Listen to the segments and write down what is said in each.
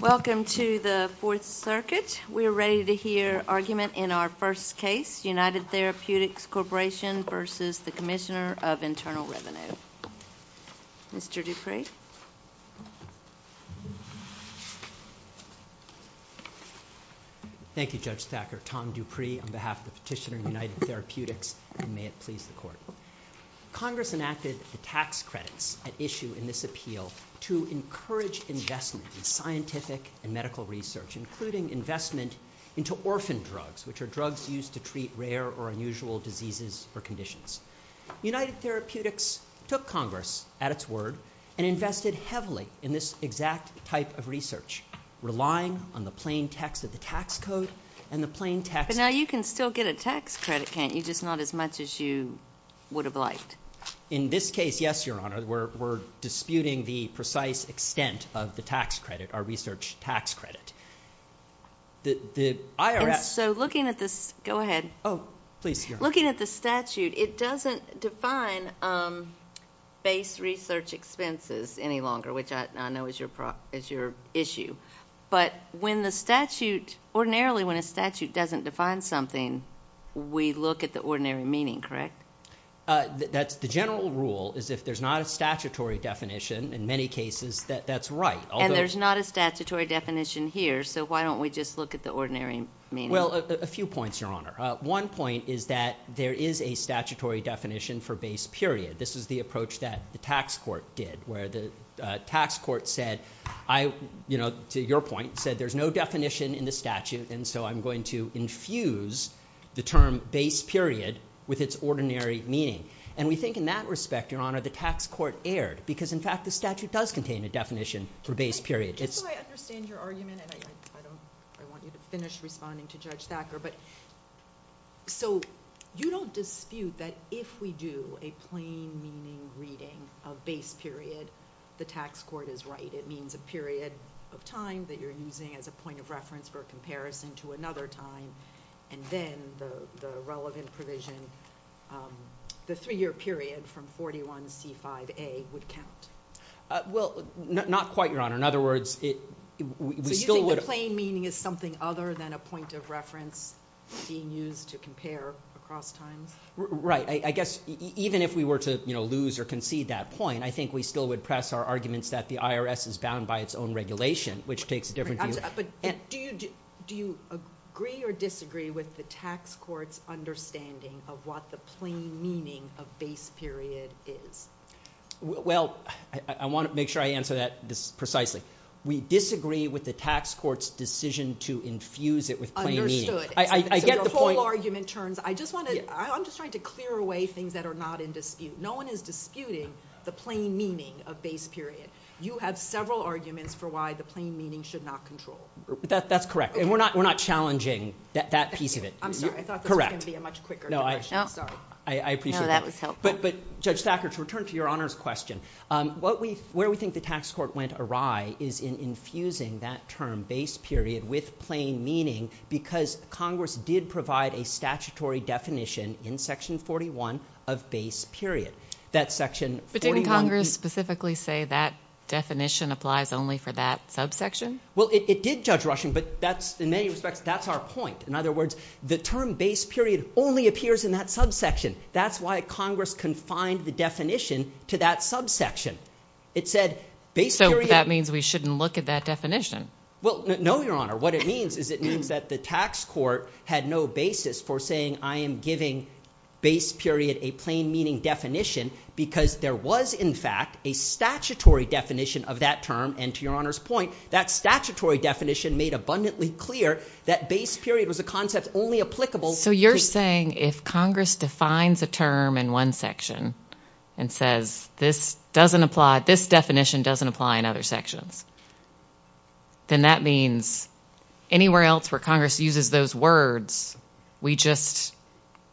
Welcome to the Fourth Circuit. We are ready to hear argument in our first case, United Therapeutics Corporation v. Commissioner of Internal Revenue. Mr. Dupree. Thank you, Judge Thacker. Tom Dupree on behalf of the petitioner, United Therapeutics, and may it please the Court. Congress enacted the tax credits at issue in this appeal to encourage investment in scientific and medical research, including investment into orphan drugs, which are drugs used to treat rare or unusual diseases or conditions. United Therapeutics took Congress at its word and invested heavily in this exact type of research, relying on the plain text of the tax code and the plain text of the— But now you can still get a tax credit, can't you, just not as much as you would have liked? In this case, yes, Your Honor. We're disputing the precise extent of the tax credit, our research tax credit. The IRS— So looking at this statute, it doesn't define base research expenses any longer, which I know is your issue. But ordinarily when a statute doesn't define something, we look at the ordinary meaning, correct? The general rule is if there's not a statutory definition, in many cases, that's right. And there's not a statutory definition here, so why don't we just look at the ordinary meaning? Well, a few points, Your Honor. One point is that there is a statutory definition for base period. This is the approach that the tax court did, where the tax court said, to your point, said there's no definition in the statute, and so I'm going to infuse the ordinary meaning. And we think in that respect, Your Honor, the tax court erred, because in fact the statute does contain a definition for base period. Just so I understand your argument, and I want you to finish responding to Judge Thacker. So you don't dispute that if we do a plain meaning reading of base period, the tax court is right. It means a period of time that you're using as a point of reference for comparison to another time, and then the relevant provision, the three-year period from 41C5A, would count. Well, not quite, Your Honor. In other words, we still would... So you think the plain meaning is something other than a point of reference being used to compare across times? Right. I guess even if we were to lose or concede that point, I think we still would press our arguments that the IRS is bound by its own regulation, which takes a different view. But do you agree or disagree with the tax court's understanding of what the plain meaning of base period is? Well, I want to make sure I answer that precisely. We disagree with the tax court's decision to infuse it with plain meaning. Understood. I get the point. So your whole argument turns... I'm just trying to clear away things that are not in dispute. No one is disputing the plain meaning of base period. You have several arguments for why the plain meaning should not control. That's correct. And we're not challenging that piece of it. I'm sorry. I thought this was going to be a much quicker question. Sorry. I appreciate that. No, that was helpful. But, Judge Thacker, to return to Your Honor's question, where we think the tax court went awry is in infusing that term, base period, with plain meaning, because Congress did provide a statutory definition in Section 41 of base period. That Section 41... But didn't Congress specifically say that definition applies only for that subsection? Well, it did judge Rushing, but in many respects, that's our point. In other words, the term base period only appears in that subsection. That's why Congress confined the definition to that subsection. It said base period... So that means we shouldn't look at that definition. Well, no, Your Honor. What it means is it means that the tax court had no basis for saying I am giving base period a plain meaning definition because there was, in fact, a statutory definition of that term. And to Your Honor's point, that statutory definition made abundantly clear that base period was a concept only applicable... So you're saying if Congress defines a term in one section and says this definition doesn't apply in other sections, then that means anywhere else where Congress uses those words, we just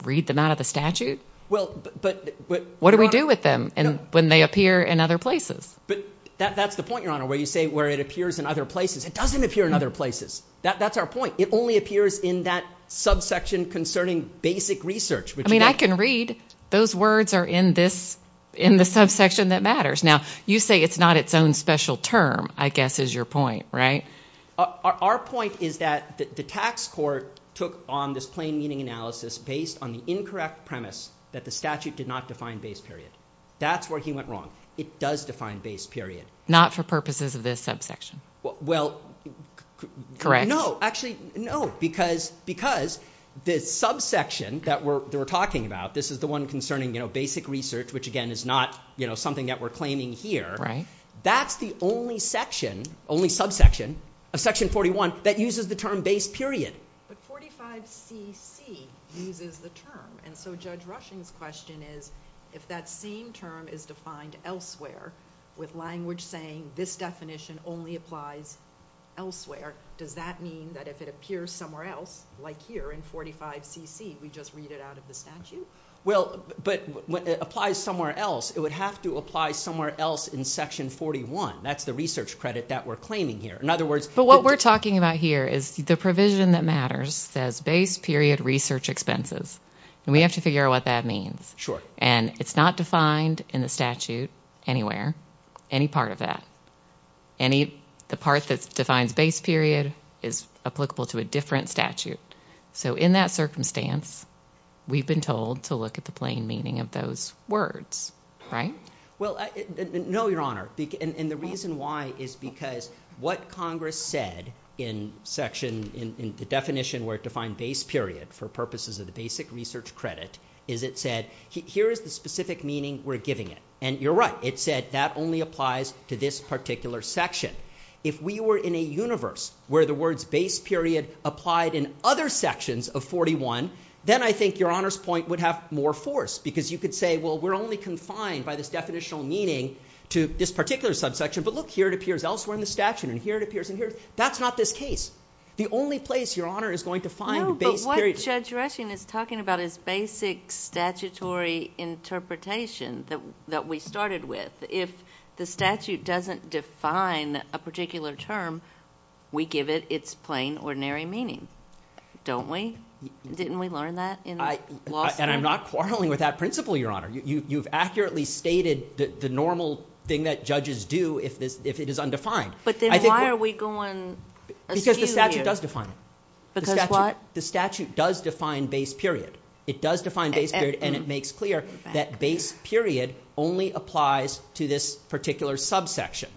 read them out of the statute? What do we do with them when they appear in other places? That's the point, Your Honor, where you say where it appears in other places. It doesn't appear in other places. That's our point. It only appears in that subsection concerning basic research. I can read those words are in the subsection that matters. Now, you say it's not its own special term, I guess, is your point, right? Our point is that the tax court took on this plain meaning analysis based on the incorrect premise that the statute did not define base period. That's where he went wrong. It does define base period. Not for purposes of this subsection? Well, no. Actually, no. Because the subsection that we're talking about, this is the one concerning basic research, which, again, is not something that we're claiming here. That's the only section, only subsection, of Section 41 that uses the term base period. But 45cc uses the term, and so Judge Rushing's question is, if that same term is defined elsewhere with language saying this definition only applies elsewhere, does that mean that if it appears somewhere else, like here in 45cc, we just read it out of the statute? Well, but it applies somewhere else. It would have to apply somewhere else in Section 41. That's the research credit that we're claiming here. In other words... But what we're talking about here is the provision that matters says base period research expenses. We have to figure out what that means. Sure. And it's not defined in the statute anywhere, any part of that. The part that defines base period is applicable to a different statute. So in that circumstance, we've been told to look at the plain meaning of those words, right? Well, no, Your Honor. And the reason why is because what Congress said in the definition where it defined base period for purposes of the basic research credit is it said, here is the specific meaning we're giving it. And you're right. It said that only applies to this particular section. If we were in a universe where the words base period applied in other sections of 41, then I think Your Honor's point would have more force because you could say, well, we're only confined by this definitional meaning to this particular subsection. But look, here it appears elsewhere in the statute, and here it appears in here. That's not this case. The only place Your Honor is going to find base period... No, but what Judge Rushing is talking about is basic statutory interpretation that we started with. If the statute doesn't define a particular term, we give it its plain ordinary meaning, don't we? Didn't we learn that in law school? And I'm not quarreling with that principle, Your Honor. You've accurately stated the normal thing that judges do if it is undefined. But then why are we going askew here? Because the statute does define it. Because what? The statute does define base period. It does define base period, and it makes clear that base period only applies to this particular subsection.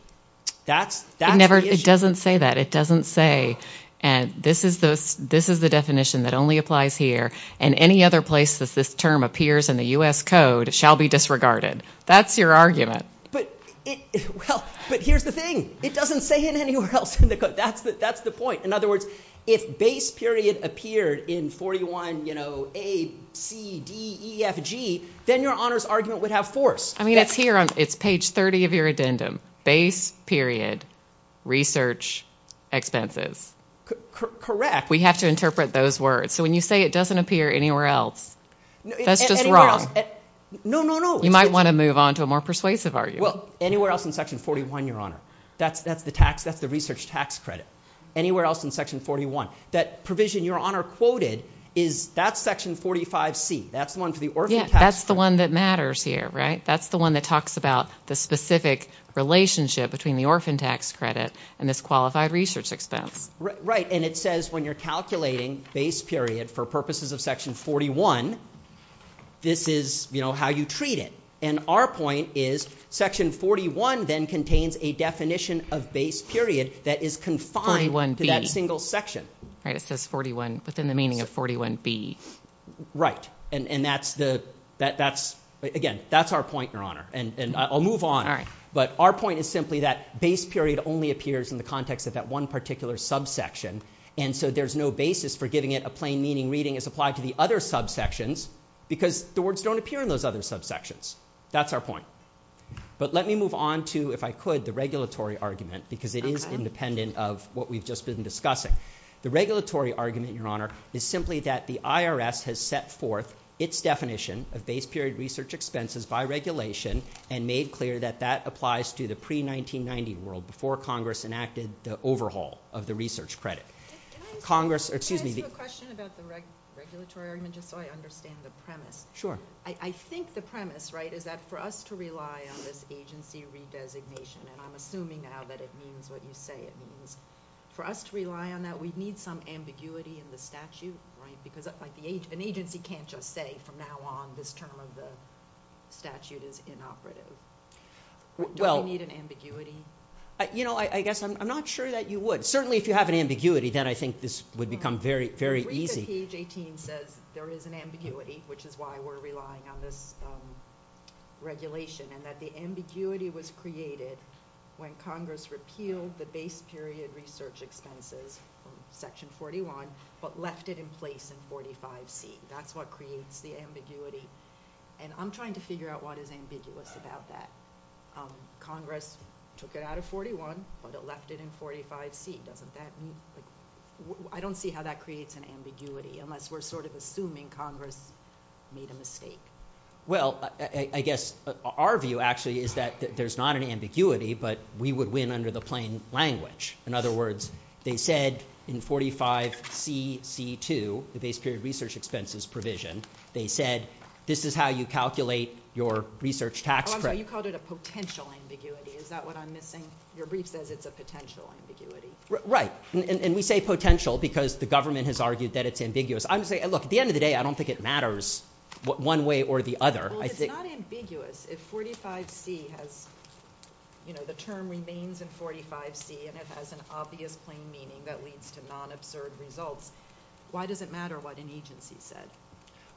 That's the issue. It doesn't say that. It doesn't say, this is the definition that only applies here, and any other place that this term appears in the U.S. Code shall be disregarded. That's your argument. But here's the thing. It doesn't say it anywhere else in the code. That's the point. In other words, this argument would have force. I mean, it's here. It's page 30 of your addendum. Base period, research, expenses. Correct. We have to interpret those words. So when you say it doesn't appear anywhere else, that's just wrong. No, no, no. You might want to move on to a more persuasive argument. Well, anywhere else in Section 41, Your Honor. That's the tax. That's the research tax credit. Anywhere else in Section 41. That provision Your Honor quoted, that's Section 45C. That's the one for the orphan tax credit. That's the one that matters here, right? That's the one that talks about the specific relationship between the orphan tax credit and this qualified research expense. Right. And it says when you're calculating base period for purposes of Section 41, this is how you treat it. And our point is, Section 41 then contains a definition of base period that is confined to that single section. Right. It says 41 within the meaning of 41B. Right. And that's the, again, that's our point, Your Honor. And I'll move on. But our point is simply that base period only appears in the context of that one particular subsection. And so there's no basis for giving it a plain meaning reading as applied to the other subsections because the words don't appear in those other subsections. That's our point. But let me move on to, if I could, the regulatory argument because it is independent of what we've just been discussing. The regulatory argument, Your Honor, is simply that the IRS has set forth its definition of base period research expenses by regulation and made clear that that applies to the pre-1990 world before Congress enacted the overhaul of the research credit. Congress, excuse me. Can I ask you a question about the regulatory argument just so I understand the premise? Sure. I think the premise, right, is that for us to rely on this agency redesignation, and I'm assuming now that it means what you say it means, for us to rely on that, we'd need some ambiguity in the statute, right? Because an agency can't just say, from now on, this term of the statute is inoperative. Do we need an ambiguity? You know, I guess I'm not sure that you would. Certainly, if you have an ambiguity, then I think this would become very, very easy. Read that page 18 says there is an ambiguity, which is why we're relying on this regulation and that the ambiguity was created when Congress repealed the base period research expenses from Section 41, but left it in place in 45C. That's what creates the ambiguity. And I'm trying to figure out what is ambiguous about that. Congress took it out of 41, but it left it in 45C. Doesn't that mean, like, I don't see how that creates an ambiguity, unless Well, I guess our view, actually, is that there's not an ambiguity, but we would win under the plain language. In other words, they said in 45C.C.2, the base period research expenses provision, they said, this is how you calculate your research tax credit. Oh, I'm sorry. You called it a potential ambiguity. Is that what I'm missing? Your brief says it's a potential ambiguity. Right. And we say potential because the government has argued that it's ambiguous. I'm saying, look, at the end of the day, I don't think it matters one way or the other. Well, if it's not ambiguous, if 45C has, you know, the term remains in 45C, and it has an obvious plain meaning that leads to non-absurd results, why does it matter what an agency said?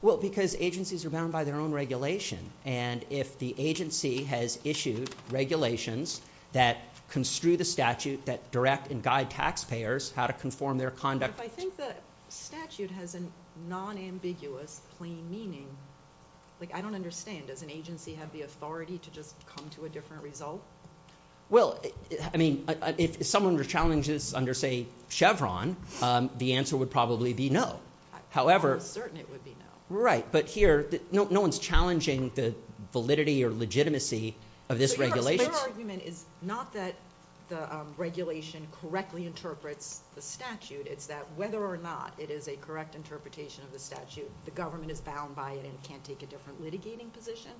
Well, because agencies are bound by their own regulation. And if the agency has issued regulations that construe the statute, that direct and guide taxpayers how to conform their conduct. But if I think the statute has a non-ambiguous plain meaning, like, I don't understand. Does an agency have the authority to just come to a different result? Well, I mean, if someone were to challenge this under, say, Chevron, the answer would probably be no. I'm certain it would be no. Right. But here, no one's challenging the validity or legitimacy of this regulation. But your argument is not that the regulation correctly interprets the statute. It's that whether or not it is a correct interpretation of the statute, the government is bound by it and can't take a different litigating position?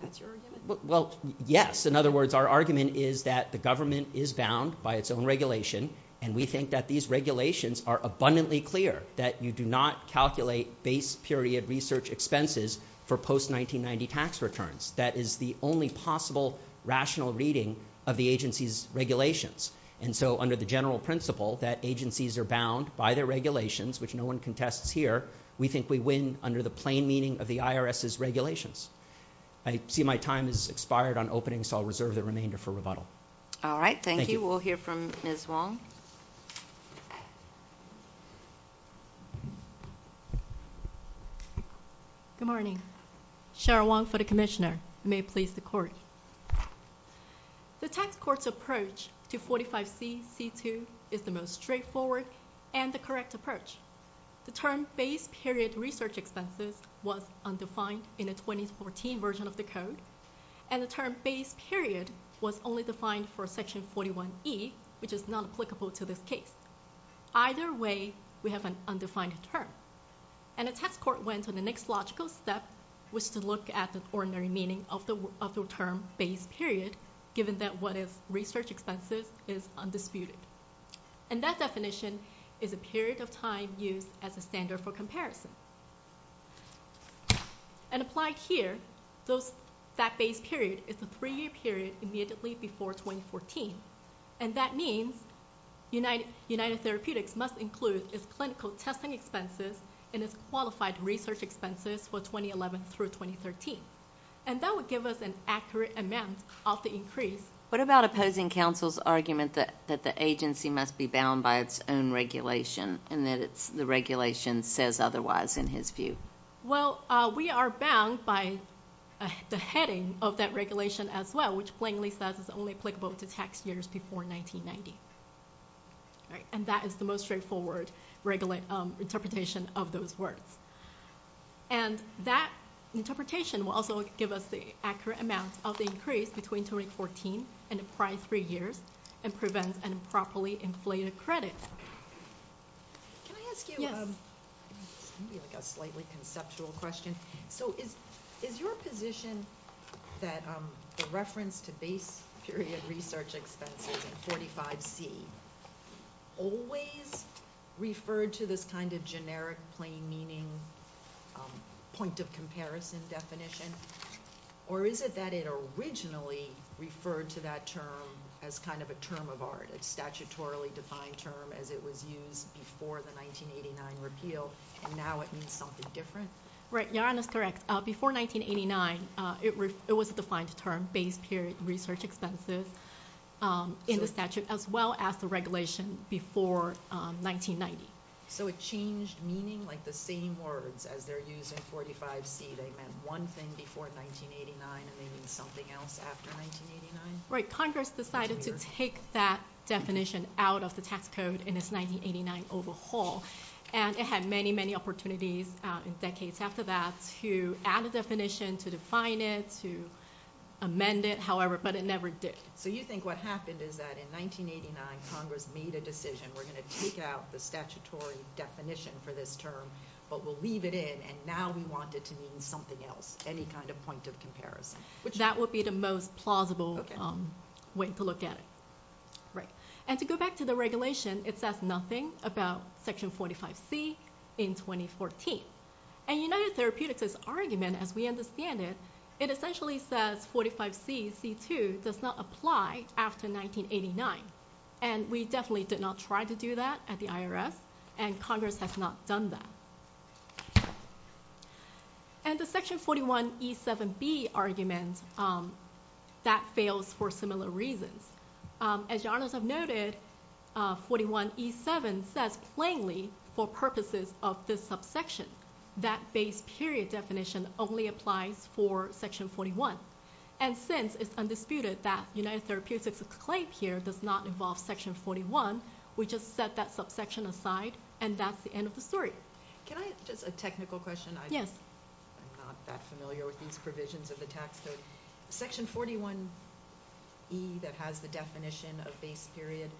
That's your argument? Well, yes. In other words, our argument is that the government is bound by its own regulation, and we think that these regulations are abundantly clear, that you do not calculate base period research expenses for post-1990 tax returns. That is the only possible rational reading of the agency's regulations. And so under the general principle that agencies are bound by their regulations, which no one contests here, we think we win under the plain meaning of the IRS's regulations. I see my time has expired on opening, so I'll reserve the remainder for rebuttal. All right. Thank you. We'll hear from Ms. Wong. Good morning. Cheryl Wong for the Commissioner. May it please the Court. The tax court's approach to 45C.C.2 is the most straightforward and the correct approach. The term base period research expenses was undefined in the 2014 version of the Code, and the term base period was only defined for Section 41E, which is not applicable to this case. Either way, we have an undefined term. And the tax court went to the next logical step, which is to look at the ordinary meaning of the term base period, given that what is research expenses is undisputed. And that definition is a period of time used as a standard for comparison. And applied here, that base period is a three-year period immediately before 2014. And that means United Therapeutics must include its clinical testing expenses and its qualified research expenses for 2011 through 2013. And that would give us an accurate amount of the increase. What about opposing counsel's argument that the agency must be bound by its own regulation and that the regulation says otherwise in his view? Well, we are bound by the heading of that regulation as well, which plainly says it's only applicable to tax years before 1990. And that is the most straightforward interpretation of those words. And that interpretation will also give us the accurate amount of the increase between 2014 and the prior three years and prevent an improperly inflated credit. Can I ask you a slightly conceptual question? So is your position that the reference to base period research expenses in 45C always referred to this kind of generic plain meaning point of comparison definition? Or is it that it originally referred to that term as kind of a term of art, a statutorily defined term as it was used before the 1989 repeal, and now it means something different? Right, Yaran is correct. Before 1989, it was a defined term, base period research expenses, in the statute as well as the regulation before 1990. So it changed meaning like the same words as they're used in 45C. They meant one thing before 1989, and they mean something else after 1989? Right, Congress decided to take that definition out of the tax code in its 1989 overhaul, and it had many, many opportunities decades after that to add a definition, to define it, to amend it, however, but it never did. So you think what happened is that in 1989, Congress made a decision, we're going to take out the statutory definition for this term, but we'll leave it in, and now we want it to mean something else, any kind of point of comparison. That would be the most plausible way to look at it. Right. And to go back to the regulation, it says nothing about Section 45C in 2014. And United Therapeutics' argument, as we understand it, it essentially says 45C, C2, does not apply after 1989, and we definitely did not try to do that at the IRS, and Congress has not done that. And the Section 41E7B argument, that fails for similar reasons. As your Honors have noted, 41E7 says plainly for purposes of this subsection, that base period definition only applies for Section 41. And since it's undisputed that United Therapeutics' claim here does not involve Section 41, we just set that subsection aside, and that's the end of the story. Can I ask just a technical question? Yes. I'm not that familiar with these provisions of the tax code. Section 41E that has the definition of base period,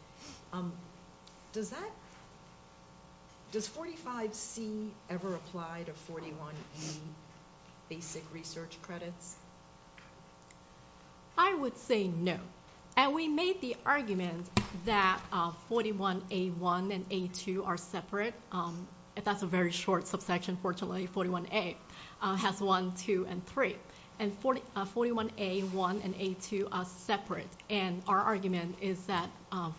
does 45C ever apply to 41A basic research credits? I would say no. And we made the argument that 41A1 and A2 are separate. That's a very short subsection, fortunately. 41A has one, two, and three. And 41A1 and A2 are separate. And our argument is that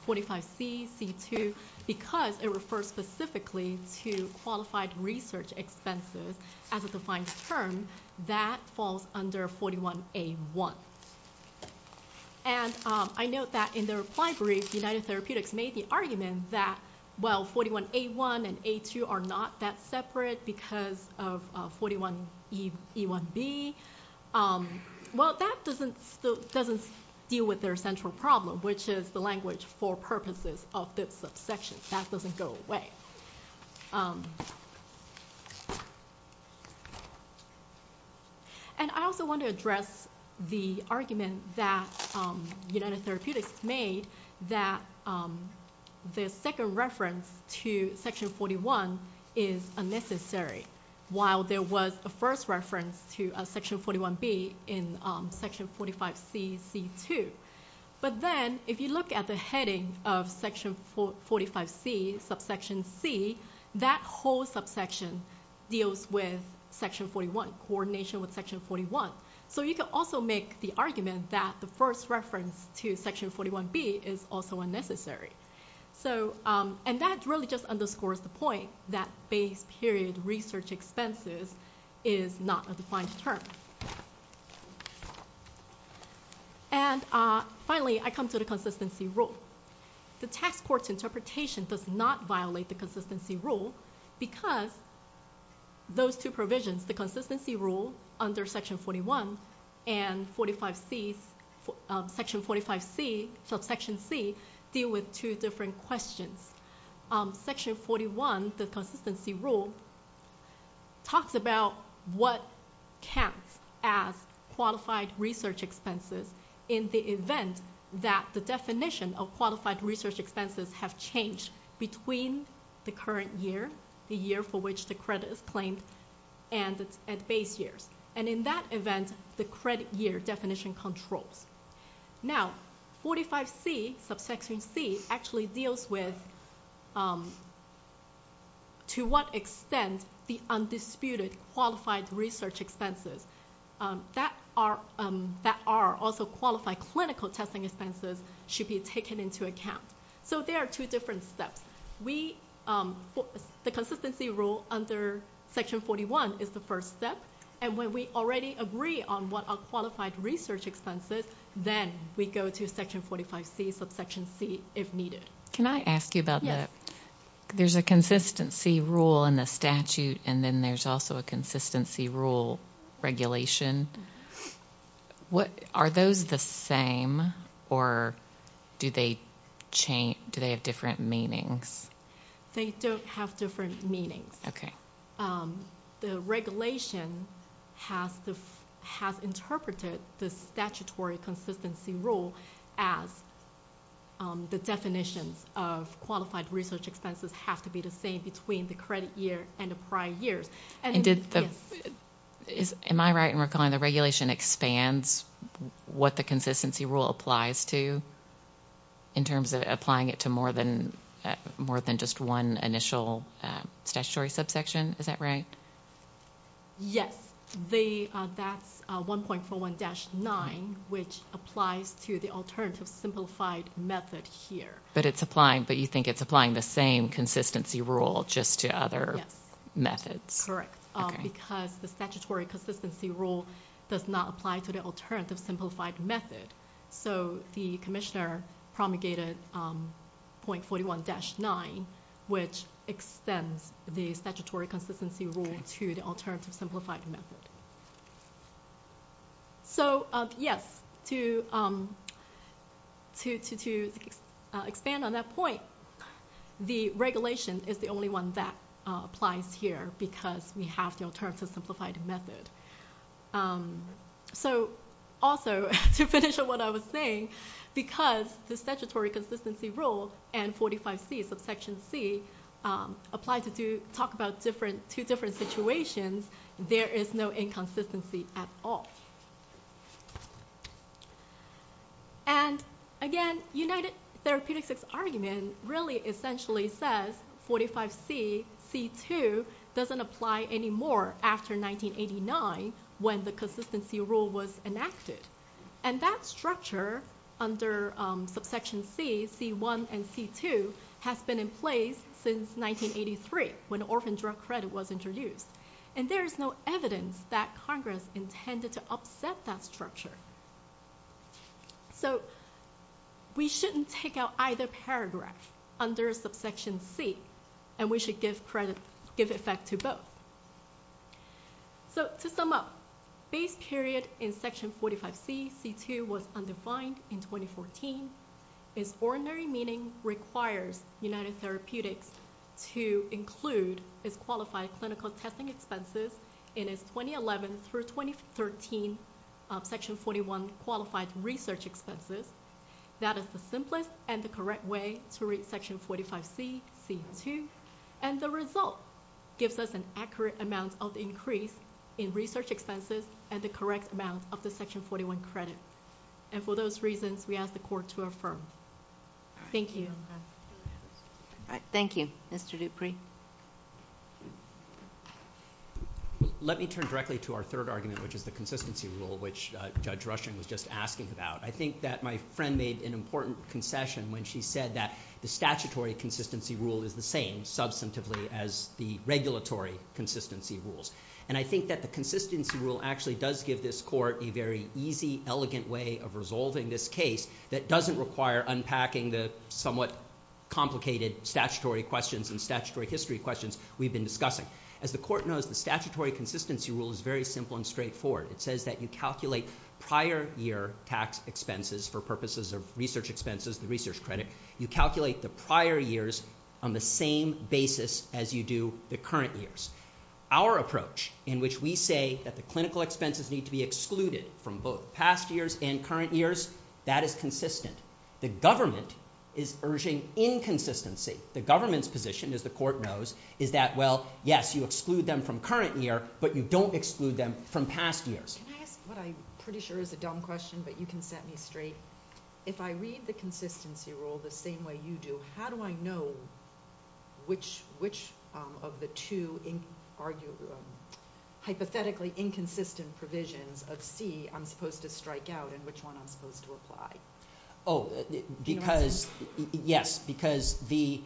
45C, C2, because it refers specifically to qualified research expenses as a defined term, that falls under 41A1. And I note that in the reply brief, United Therapeutics made the argument that, well, 41A1 and A2 are not that separate because of 41E1B. Well, that doesn't deal with their central problem, which is the language for purposes of this subsection. That doesn't go away. And I also want to address the argument that United Therapeutics made that the second reference to Section 41 is unnecessary, while there was a first reference to Section 41B in Section 45C, C2. But then if you look at the heading of Section 45C, subsection C, that whole subsection deals with Section 41, coordination with Section 41. So you can also make the argument that the first reference to Section 41B is also unnecessary. And that really just underscores the point that base period research expenses is not a defined term. And finally, I come to the consistency rule. The tax court's interpretation does not violate the consistency rule because those two provisions, the consistency rule under Section 41 and Section 45C, subsection C, deal with two different questions. Section 41, the consistency rule, talks about what counts as qualified research expenses in the event that the definition of qualified research expenses have changed between the current year, the year for which the credit is claimed, and base years. And in that event, the credit year definition controls. Now, 45C, subsection C, actually deals with to what extent the undisputed qualified research expenses that are also qualified clinical testing expenses should be taken into account. So there are two different steps. The consistency rule under Section 41 is the first step. And when we already agree on what are qualified research expenses, then we go to Section 45C, subsection C, if needed. Can I ask you about that? Yes. There's a consistency rule in the statute, and then there's also a consistency rule regulation. Are those the same, or do they have different meanings? They don't have different meanings. Okay. The regulation has interpreted the statutory consistency rule as the definitions of qualified research expenses have to be the same between the credit year and the prior years. Am I right in recalling the regulation expands what the consistency rule applies to in terms of applying it to more than just one initial statutory subsection? Is that right? Yes. That's 1.41-9, which applies to the alternative simplified method here. But you think it's applying the same consistency rule just to other methods? Yes. Correct. Because the statutory consistency rule does not apply to the alternative simplified method. So the commissioner promulgated 1.41-9, which extends the statutory consistency rule to the alternative simplified method. So, yes, to expand on that point, the regulation is the only one that applies here because we have the alternative simplified method. So, also, to finish on what I was saying, because the statutory consistency rule and 45C, subsection C, apply to talk about two different situations, there is no inconsistency at all. And, again, United Therapeutics' argument really essentially says 45C, C2, doesn't apply anymore after 1989 when the consistency rule was enacted. And that structure under subsection C, C1 and C2, has been in place since 1983 when orphan drug credit was introduced. And there is no evidence that Congress intended to upset that structure. So we shouldn't take out either paragraph under subsection C, and we should give credit, give effect to both. So, to sum up, base period in section 45C, C2, was undefined in 2014. Its ordinary meaning requires United Therapeutics to include its qualified clinical testing expenses in its 2011 through 2013 section 41 qualified research expenses. That is the simplest and the correct way to read section 45C, C2. And the result gives us an accurate amount of increase in research expenses and the correct amount of the section 41 credit. And for those reasons, we ask the Court to affirm. Thank you. Thank you. Mr. Dupree. Let me turn directly to our third argument, which is the consistency rule, which Judge Rushing was just asking about. I think that my friend made an important concession when she said that the statutory consistency rule is the same, substantively, as the regulatory consistency rules. And I think that the consistency rule actually does give this Court a very easy, elegant way of resolving this case that doesn't require unpacking the somewhat complicated statutory questions and statutory history questions we've been discussing. As the Court knows, the statutory consistency rule is very simple and straightforward. It says that you calculate prior year tax expenses for purposes of research expenses, the research credit. You calculate the prior years on the same basis as you do the current years. Our approach, in which we say that the clinical expenses need to be excluded from both past years and current years, that is consistent. The government is urging inconsistency. The government's position, as the Court knows, is that, well, yes, you exclude them from current year, but you don't exclude them from past years. Can I ask what I'm pretty sure is a dumb question, but you can set me straight? If I read the consistency rule the same way you do, how do I know which of the two hypothetically inconsistent provisions of C I'm supposed to strike out and which one I'm supposed to apply? Do you know what I'm saying? Yes, because the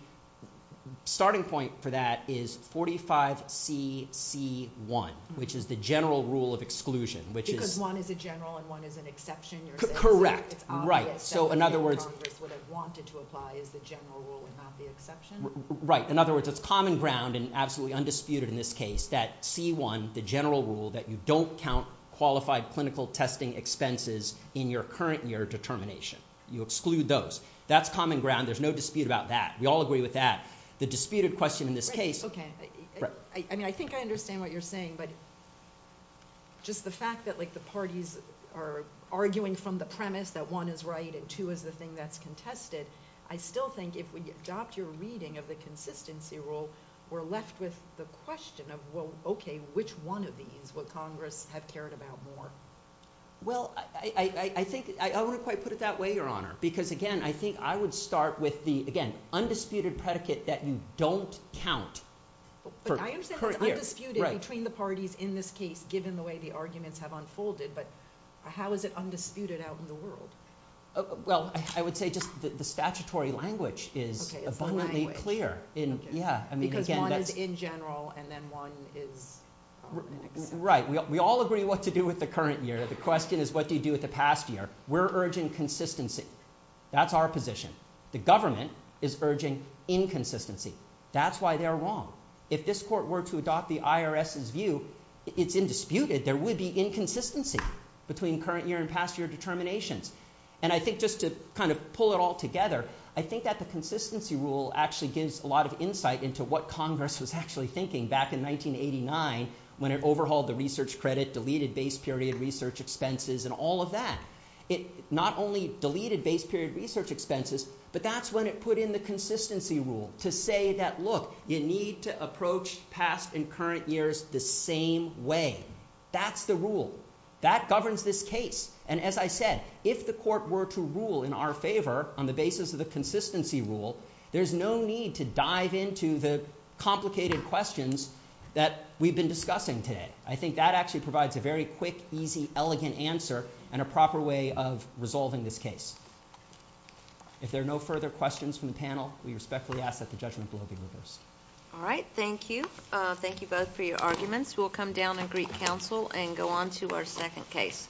starting point for that is 45C.C.1, which is the general rule of exclusion. Because one is a general and one is an exception, you're saying? Correct. Right. So in other words, what I wanted to apply is the general rule and not the exception? Right. In other words, it's common ground and absolutely undisputed in this case that C I, the general rule, that you don't count qualified clinical testing expenses in your current year determination. You exclude those. That's common ground. There's no dispute about that. We all agree with that. The disputed question in this case... Okay. I think I understand what you're saying, but just the fact that the parties are arguing from the premise that one is right and two is the thing that's contested, I still think if we adopt your reading of the consistency rule, we're left with the question of, well, okay, which one of these would Congress have cared about more? Well, I think I wouldn't quite put it that way, Your Honor, because, again, I think I would start with the, again, undisputed predicate that you don't count for current years. I understand it's undisputed between the parties in this case given the way the arguments have unfolded, but how is it undisputed out in the world? Well, I would say just the statutory language is abundantly clear. Because one is in general and then one is... Right. We all agree what to do with the current year. The question is what do you do with the past year? We're urging consistency. That's our position. The government is urging inconsistency. That's why they're wrong. If this Court were to adopt the IRS's view, it's undisputed. There would be inconsistency between current year and past year determinations. And I think just to kind of pull it all together, I think that the consistency rule actually gives a lot of insight into what Congress was actually thinking back in 1989 when it overhauled the research credit, deleted base period research expenses and all of that. It not only deleted base period research expenses, but that's when it put in the consistency rule to say that, look, you need to approach past and current years the same way. That's the rule. That governs this case. And as I said, if the Court were to rule in our favour on the basis of the consistency rule, there's no need to dive into the complicated questions that we've been discussing today. I think that actually provides a very quick, easy, elegant answer and a proper way of resolving this case. If there are no further questions from the panel, we respectfully ask that the judgment blow be reversed. All right. Thank you. Thank you both for your arguments. We'll come down and greet counsel and go on to our second case.